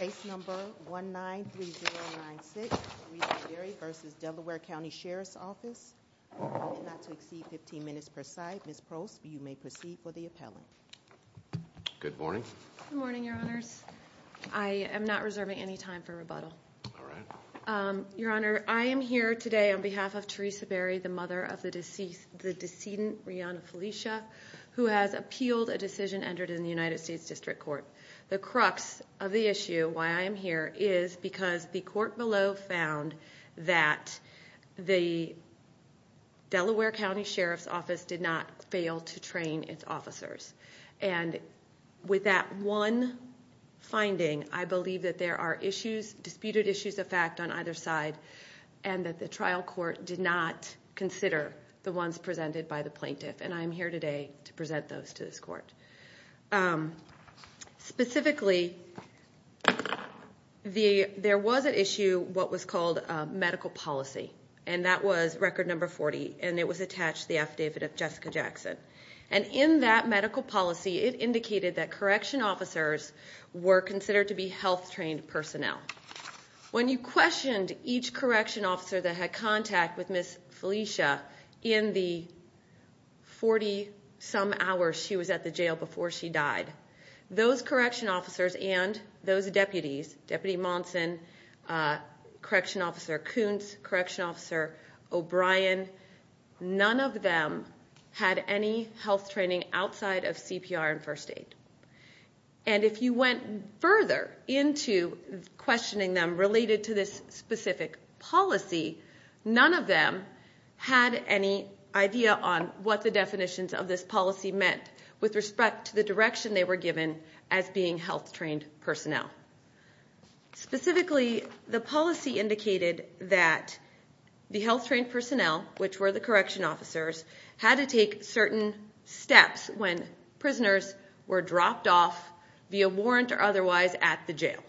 Case number 193096, Teresa Berry v. Delaware County Sheriff's Office You may proceed for the appellant Good morning Good morning your honors I am not reserving any time for rebuttal Alright Your honor, I am here today on behalf of Teresa Berry, the mother of the decedent Riana Felicia who has appealed a decision entered in the United States District Court The crux of the issue, why I am here, is because the court below found that the Delaware County Sheriff's Office did not fail to train its officers and with that one finding, I believe that there are disputed issues of fact on either side and that the trial court did not consider the ones presented by the plaintiff and I am here today to present those to this court Specifically, there was an issue, what was called medical policy and that was record number 40 and it was attached to the affidavit of Jessica Jackson and in that medical policy, it indicated that correction officers were considered to be health trained personnel When you questioned each correction officer that had contact with Ms. Felicia in the 40 some hours she was at the jail before she died those correction officers and those deputies, Deputy Monson, correction officer Kuntz, correction officer O'Brien none of them had any health training outside of CPR and first aid and if you went further into questioning them related to this specific policy none of them had any idea on what the definitions of this policy meant with respect to the direction they were given as being health trained personnel Specifically, the policy indicated that the health trained personnel, which were the correction officers had to take certain steps when prisoners were dropped off via warrant or otherwise at the jail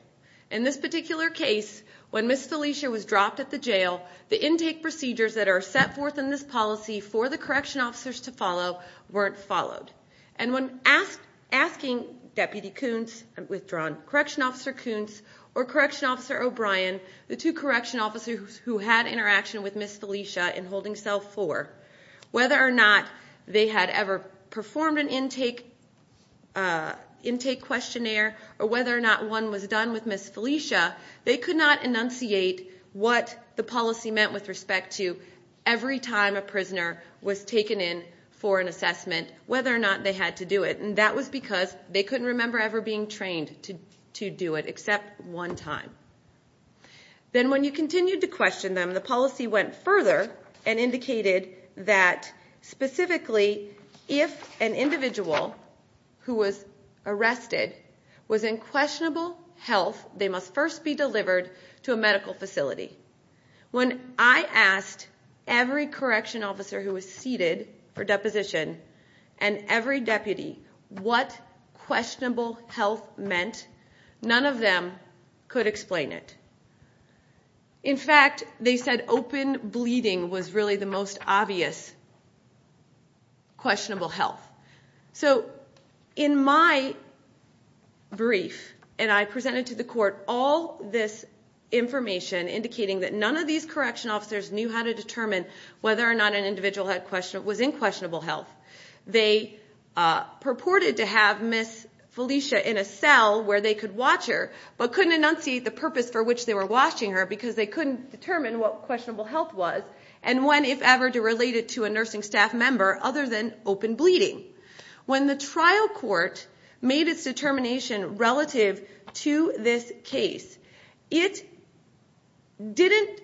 In this particular case, when Ms. Felicia was dropped at the jail the intake procedures that are set forth in this policy for the correction officers to follow weren't followed and when asking Deputy Kuntz, I've withdrawn, correction officer Kuntz or correction officer O'Brien the two correction officers who had interaction with Ms. Felicia in holding cell 4 whether or not they had ever performed an intake questionnaire or whether or not one was done with Ms. Felicia they could not enunciate what the policy meant with respect to every time a prisoner was taken in for an assessment whether or not they had to do it and that was because they couldn't remember ever being trained to do it except one time Then when you continued to question them, the policy went further and indicated that specifically if an individual who was arrested was in questionable health they must first be delivered to a medical facility When I asked every correction officer who was seated for deposition and every deputy what questionable health meant, none of them could explain it In fact, they said open bleeding was really the most obvious questionable health So in my brief, and I presented to the court all this information indicating that none of these correction officers knew how to determine whether or not an individual was in questionable health They purported to have Ms. Felicia in a cell where they could watch her but couldn't enunciate the purpose for which they were watching her because they couldn't determine what questionable health was and when, if ever, to relate it to a nursing staff member other than open bleeding When the trial court made its determination relative to this case it didn't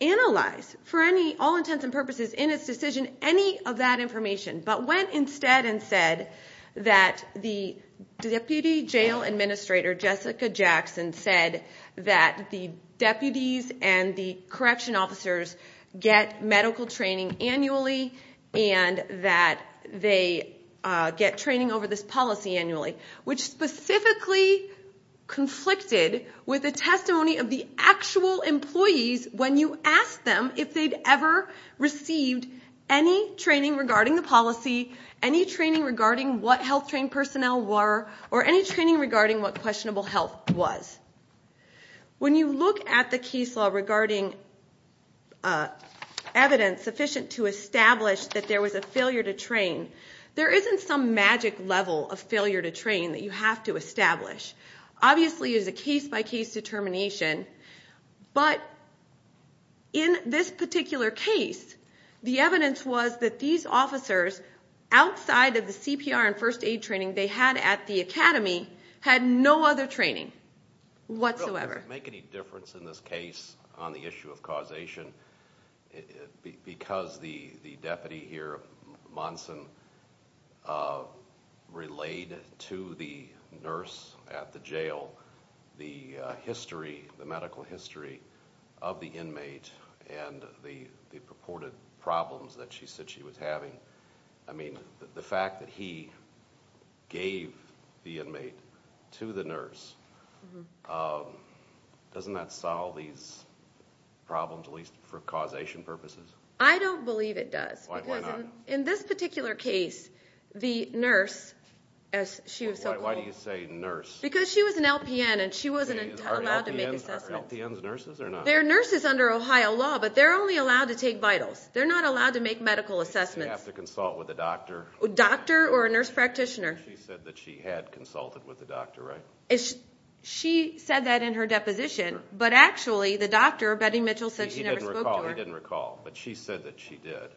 analyze for all intents and purposes in its decision any of that information but went instead and said that the Deputy Jail Administrator Jessica Jackson said that the deputies and the correction officers get medical training annually and that they get training over this policy annually which specifically conflicted with the testimony of the actual employees when you asked them if they'd ever received any training regarding the policy any training regarding what health train personnel were or any training regarding what questionable health was When you look at the case law regarding evidence sufficient to establish that there was a failure to train there isn't some magic level of failure to train that you have to establish Obviously there's a case by case determination but in this particular case the evidence was that these officers outside of the CPR and first aid training they had at the academy had no other training whatsoever Does it make any difference in this case on the issue of causation? Because the deputy here, Monson, relayed to the nurse at the jail the medical history of the inmate and the purported problems that she said she was having I mean, the fact that he gave the inmate to the nurse doesn't that solve these problems, at least for causation purposes? I don't believe it does Why not? Because in this particular case, the nurse Why do you say nurse? Because she was an LPN and she wasn't allowed to make assessments Are LPNs nurses or not? They're nurses under Ohio law but they're only allowed to take vitals They're not allowed to make medical assessments Does she have to consult with a doctor? A doctor or a nurse practitioner She said that she had consulted with a doctor, right? She said that in her deposition but actually the doctor, Betty Mitchell, said she never spoke to her He didn't recall, but she said that she did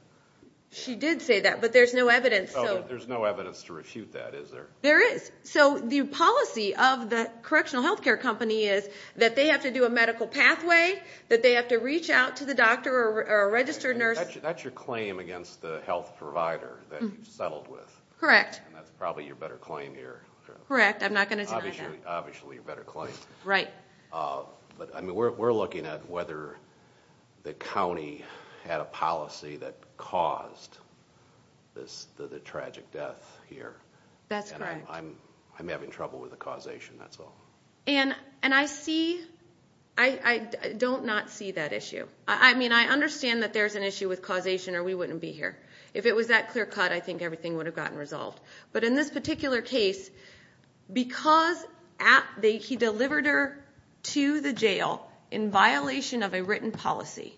She did say that, but there's no evidence There's no evidence to refute that, is there? There is So the policy of the correctional health care company is that they have to do a medical pathway that they have to reach out to the doctor or a registered nurse That's your claim against the health provider that you've settled with Correct And that's probably your better claim here Correct, I'm not going to deny that Obviously your better claim Right But we're looking at whether the county had a policy that caused the tragic death here That's correct And I'm having trouble with the causation, that's all And I see, I don't not see that issue I mean, I understand that there's an issue with causation or we wouldn't be here If it was that clear cut, I think everything would have gotten resolved But in this particular case, because he delivered her to the jail in violation of a written policy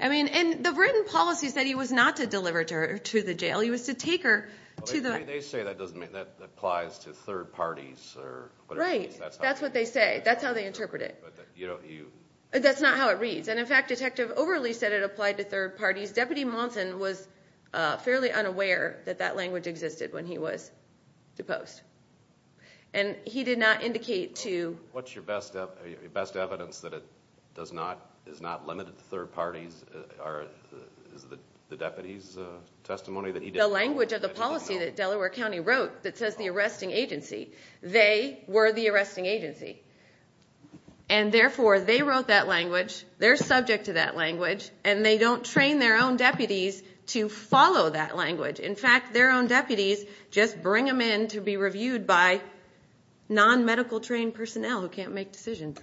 I mean, and the written policy said he was not to deliver her to the jail He was to take her to the They say that applies to third parties Right, that's what they say, that's how they interpret it That's not how it reads And in fact, Detective Overly said it applied to third parties Deputy Monson was fairly unaware that that language existed when he was deposed And he did not indicate to What's your best evidence that it does not, is not limited to third parties Is it the deputy's testimony that he did not The language of the policy that Delaware County wrote that says the arresting agency They were the arresting agency And therefore they wrote that language, they're subject to that language And they don't train their own deputies to follow that language In fact, their own deputies just bring them in to be reviewed by Non-medical trained personnel who can't make decisions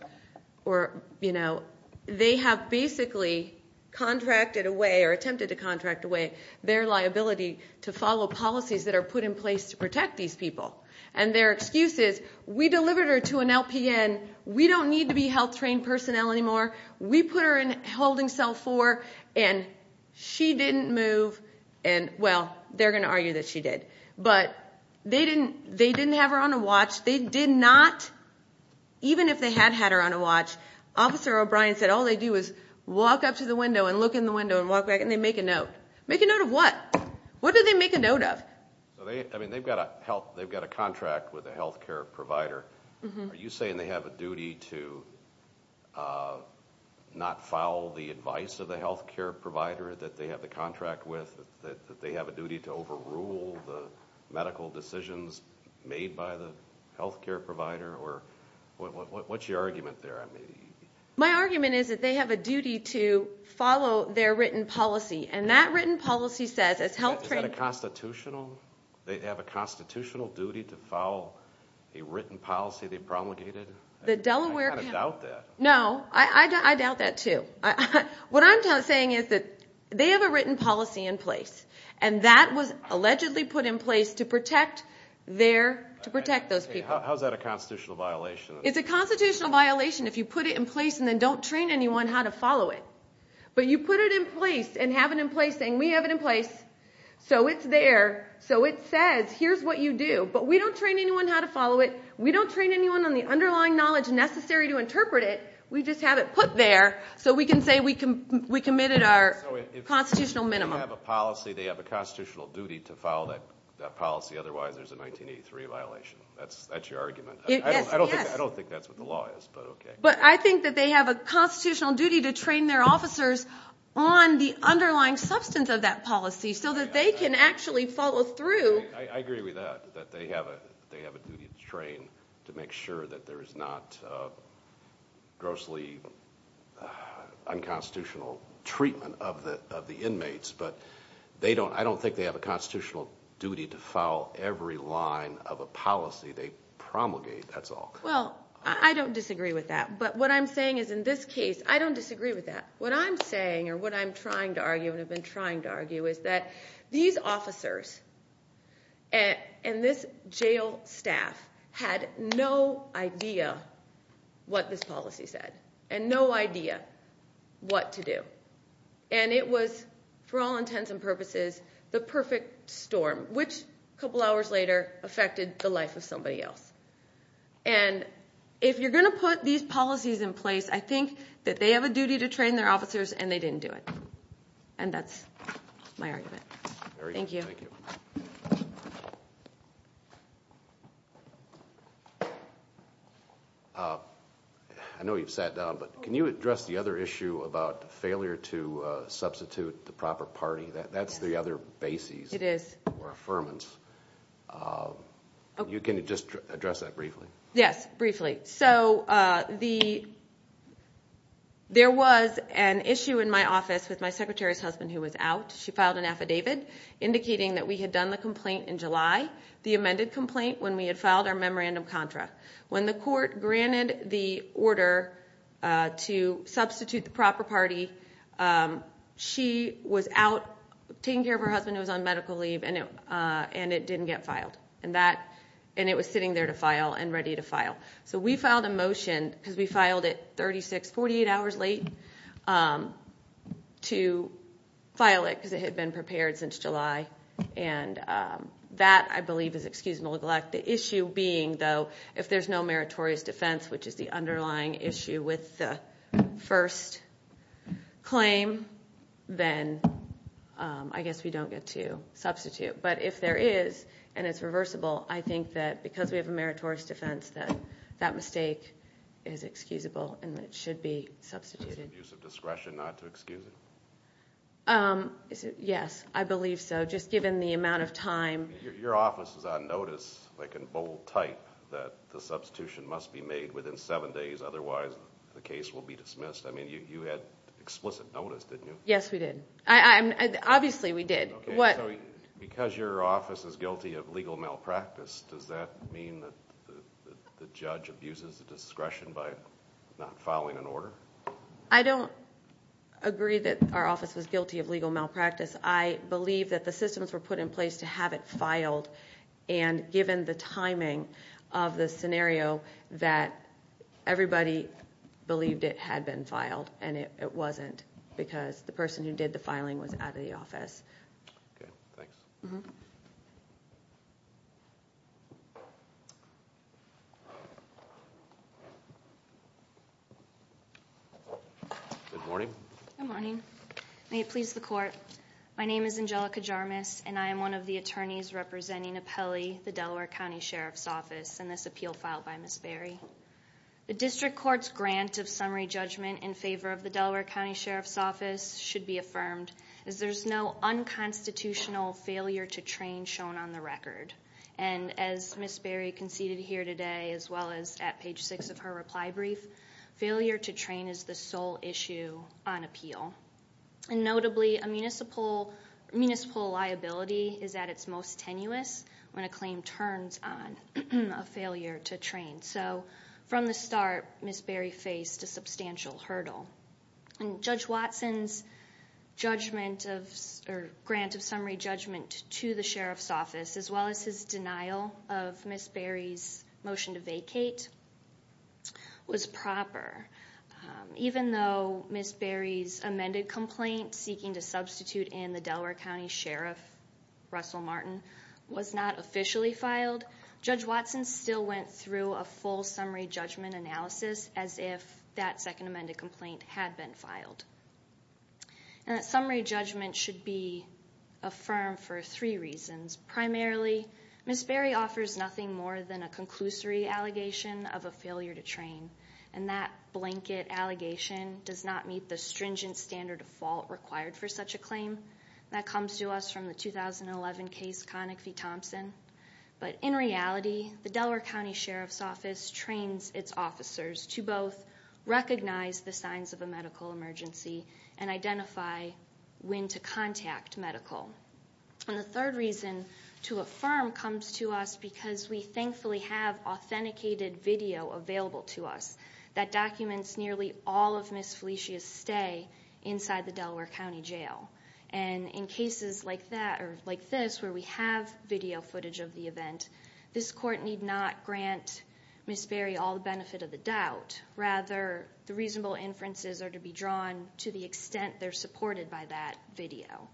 Or, you know, they have basically contracted away or attempted to contract away Their liability to follow policies that are put in place to protect these people And their excuse is, we delivered her to an LPN We don't need to be health trained personnel anymore We put her in holding cell 4 and she didn't move And, well, they're going to argue that she did But they didn't have her on a watch They did not, even if they had had her on a watch Officer O'Brien said all they do is walk up to the window and look in the window and walk back And they make a note Make a note of what? What did they make a note of? I mean, they've got a contract with a health care provider Are you saying they have a duty to not follow the advice of the health care provider that they have the contract with? That they have a duty to overrule the medical decisions made by the health care provider? What's your argument there? My argument is that they have a duty to follow their written policy And that written policy says, as health trained... Is that a constitutional? They have a constitutional duty to follow a written policy they promulgated? I kind of doubt that No, I doubt that too What I'm saying is that they have a written policy in place And that was allegedly put in place to protect those people How is that a constitutional violation? It's a constitutional violation if you put it in place and then don't train anyone how to follow it But you put it in place and have it in place saying we have it in place So it's there, so it says here's what you do But we don't train anyone how to follow it We don't train anyone on the underlying knowledge necessary to interpret it We just have it put there so we can say we committed our constitutional minimum So if they have a policy, they have a constitutional duty to follow that policy Otherwise there's a 1983 violation That's your argument I don't think that's what the law is But I think that they have a constitutional duty to train their officers On the underlying substance of that policy so that they can actually follow through I agree with that, that they have a duty to train To make sure that there's not grossly unconstitutional treatment of the inmates But I don't think they have a constitutional duty to follow every line of a policy they promulgate, that's all Well, I don't disagree with that But what I'm saying is in this case, I don't disagree with that What I'm saying, or what I'm trying to argue, and have been trying to argue Is that these officers and this jail staff had no idea what this policy said And no idea what to do And it was, for all intents and purposes, the perfect storm Which, a couple hours later, affected the life of somebody else And if you're going to put these policies in place I think that they have a duty to train their officers, and they didn't do it And that's my argument Thank you I know you've sat down, but can you address the other issue about failure to substitute the proper party? That's the other basis for affirmance You can just address that briefly Yes, briefly So, there was an issue in my office with my secretary's husband who was out She filed an affidavit indicating that we had done the complaint in July The amended complaint when we had filed our memorandum contract When the court granted the order to substitute the proper party She was out taking care of her husband who was on medical leave And it didn't get filed And it was sitting there to file, and ready to file So we filed a motion, because we filed it 36, 48 hours late To file it, because it had been prepared since July And that, I believe, is excusable neglect The issue being, though, if there's no meritorious defense Which is the underlying issue with the first claim Then I guess we don't get to substitute But if there is, and it's reversible I think that because we have a meritorious defense That that mistake is excusable, and it should be substituted Is it an abuse of discretion not to excuse it? Yes, I believe so, just given the amount of time Your office is on notice, like in bold type That the substitution must be made within seven days Otherwise, the case will be dismissed I mean, you had explicit notice, didn't you? Yes, we did Obviously, we did Because your office is guilty of legal malpractice Does that mean that the judge abuses the discretion By not filing an order? I don't agree that our office was guilty of legal malpractice I believe that the systems were put in place to have it filed And given the timing of the scenario That everybody believed it had been filed And it wasn't, because the person who did the filing Was out of the office Okay, thanks Good morning Good morning May it please the Court My name is Angelica Jarmus And I am one of the attorneys representing Appellee, the Delaware County Sheriff's Office In this appeal filed by Ms. Barry The District Court's grant of summary judgment In favor of the Delaware County Sheriff's Office Should be affirmed Is there's no unconstitutional failure to train Shown on the record And as Ms. Barry conceded here today As well as at page six of her reply brief Failure to train is the sole issue on appeal And notably, a municipal liability Is at its most tenuous When a claim turns on a failure to train So, from the start, Ms. Barry faced a substantial hurdle And Judge Watson's judgment of Or grant of summary judgment to the Sheriff's Office As well as his denial of Ms. Barry's motion to vacate Was proper Even though Ms. Barry's amended complaint Seeking to substitute in the Delaware County Sheriff Russell Martin Was not officially filed Judge Watson still went through a full summary judgment analysis As if that second amended complaint had been filed And that summary judgment should be Affirmed for three reasons Primarily, Ms. Barry offers nothing more than A conclusory allegation of a failure to train And that blanket allegation Does not meet the stringent standard of fault Required for such a claim That comes to us from the 2011 case Connick v. Thompson But in reality, the Delaware County Sheriff's Office Trains its officers to both Recognize the signs of a medical emergency And identify when to contact medical And the third reason to affirm comes to us Because we thankfully have authenticated video Available to us That documents nearly all of Ms. Felicia's stay Inside the Delaware County Jail And in cases like this Where we have video footage of the event This court need not grant Ms. Barry All the benefit of the doubt Rather, the reasonable inferences are to be drawn To the extent they're supported by that video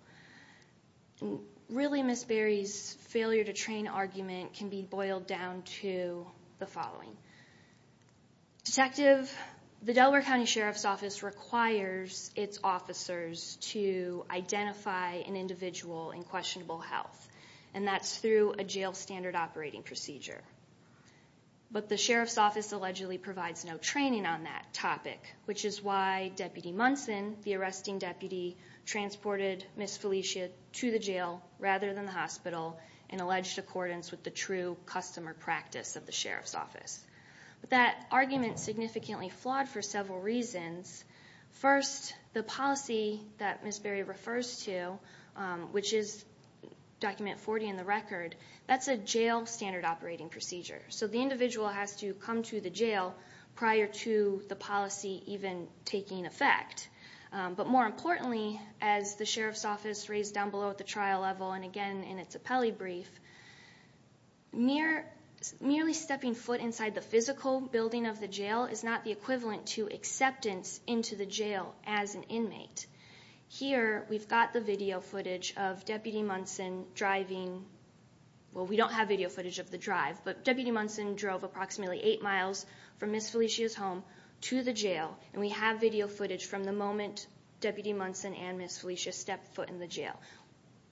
Really, Ms. Barry's failure to train argument Can be boiled down to the following Detective, the Delaware County Sheriff's Office Requires its officers to Identify an individual in questionable health And that's through a jail standard operating procedure But the Sheriff's Office allegedly provides No training on that topic Which is why Deputy Munson, the arresting deputy Transported Ms. Felicia to the jail Rather than the hospital In alleged accordance with the true customer practice Of the Sheriff's Office But that argument is significantly flawed For several reasons First, the policy that Ms. Barry refers to Which is document 40 in the record That's a jail standard operating procedure So the individual has to come to the jail Prior to the policy even taking effect But more importantly As the Sheriff's Office raised down below at the trial level And again, in its appellee brief Merely stepping foot inside the physical building of the jail Is not the equivalent to acceptance into the jail As an inmate Here, we've got the video footage of Deputy Munson driving Well, we don't have video footage of the drive But Deputy Munson drove approximately 8 miles From Ms. Felicia's home to the jail And we have video footage from the moment Deputy Munson and Ms. Felicia stepped foot in the jail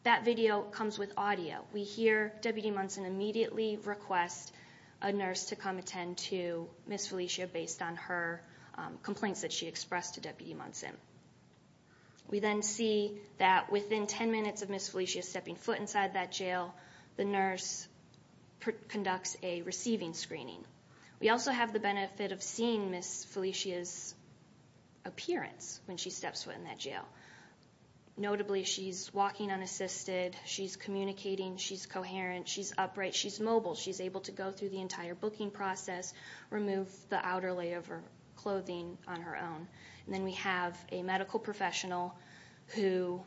That video comes with audio We hear Deputy Munson immediately request A nurse to come attend to Ms. Felicia Based on her complaints that she expressed to Deputy Munson We then see that within 10 minutes of Ms. Felicia Stepping foot inside that jail The nurse conducts a receiving screening We also have the benefit of seeing Ms. Felicia's appearance When she steps foot in that jail Notably, she's walking unassisted She's communicating, she's coherent She's upright, she's mobile She's able to go through the entire booking process Remove the outer layer of her clothing on her own And then we have a medical professional Who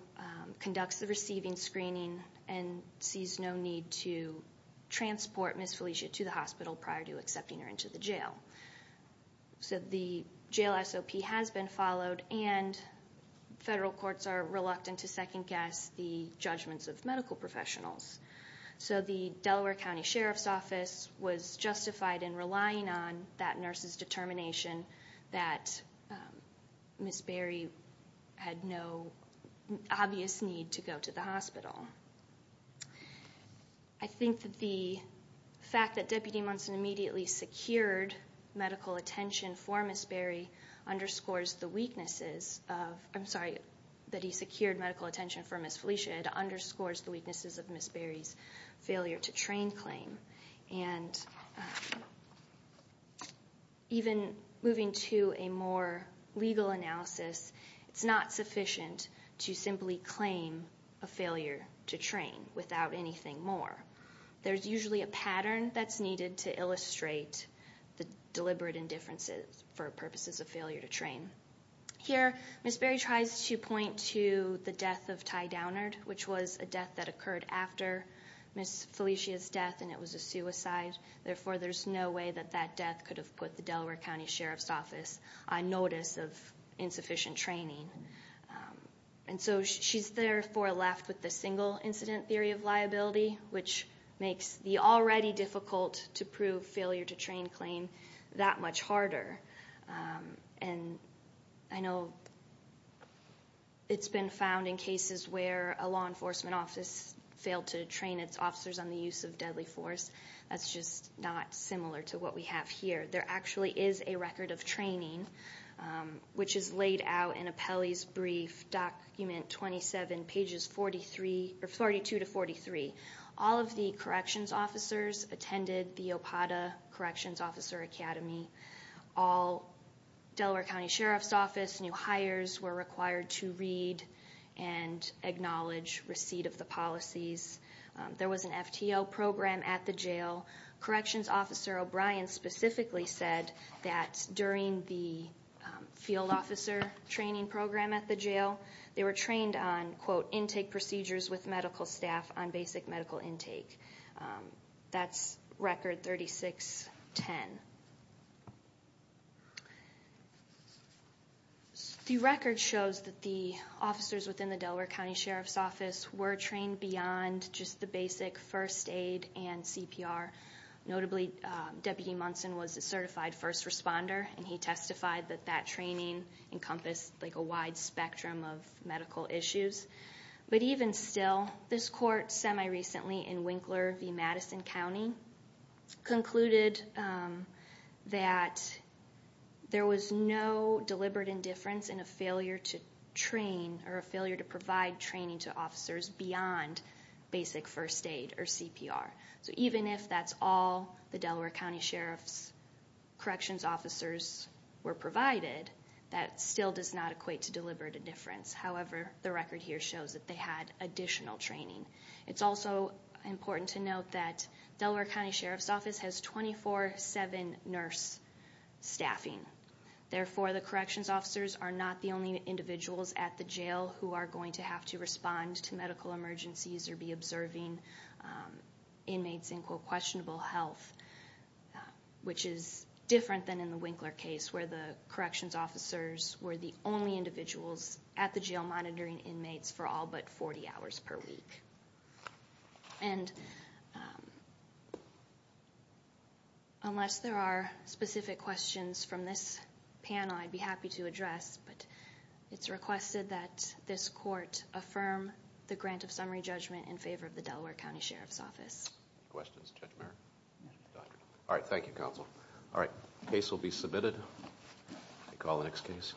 conducts the receiving screening And sees no need to transport Ms. Felicia to the hospital Prior to accepting her into the jail So the jail SOP has been followed And federal courts are reluctant to second-guess The judgments of medical professionals So the Delaware County Sheriff's Office Was justified in relying on that nurse's determination That Ms. Berry had no obvious need to go to the hospital I think that the fact that Deputy Munson Immediately secured medical attention for Ms. Berry Underscores the weaknesses of I'm sorry, that he secured medical attention for Ms. Felicia It underscores the weaknesses of Ms. Berry's failure to train claim And even moving to a more legal analysis It's not sufficient to simply claim a failure to train Without anything more There's usually a pattern that's needed to illustrate The deliberate indifferences for purposes of failure to train Here, Ms. Berry tries to point to the death of Ty Downard Which was a death that occurred after Ms. Felicia's death And it was a suicide Therefore there's no way that that death Could have put the Delaware County Sheriff's Office On notice of insufficient training And so she's therefore left with the single incident theory of liability Which makes the already difficult to prove failure to train claim That much harder And I know it's been found in cases where A law enforcement office failed to train its officers On the use of deadly force That's just not similar to what we have here There actually is a record of training Which is laid out in Apelli's brief document Document 27, pages 42-43 All of the corrections officers Attended the Opata Corrections Officer Academy All Delaware County Sheriff's Office new hires Were required to read and acknowledge Receipt of the policies There was an FTO program at the jail Corrections Officer O'Brien specifically said That during the field officer training program at the jail They were trained on Quote, intake procedures with medical staff On basic medical intake That's record 36-10 The record shows that the officers Within the Delaware County Sheriff's Office Were trained beyond just the basic first aid and CPR Notably, Deputy Munson was a certified first responder And he testified that that training Encompassed like a wide spectrum of medical issues But even still, this court semi-recently In Winkler v. Madison County Concluded that there was no deliberate indifference In a failure to train Or a failure to provide training to officers Beyond basic first aid or CPR So even if that's all the Delaware County Sheriff's Corrections Officers were provided That still does not equate to deliberate indifference However, the record here shows that they had additional training It's also important to note that Delaware County Sheriff's Office has 24-7 nurse staffing Therefore, the corrections officers Are not the only individuals at the jail Who are going to have to respond to medical emergencies Or be observing inmates in, quote, questionable health Which is different than in the Winkler case Where the corrections officers were the only individuals At the jail monitoring inmates for all but 40 hours per week Unless there are specific questions from this panel I'd be happy to address But it's requested that this court Affirm the grant of summary judgment In favor of the Delaware County Sheriff's Office Questions? Judge Merrick? All right, thank you, counsel All right, case will be submitted We'll call the next case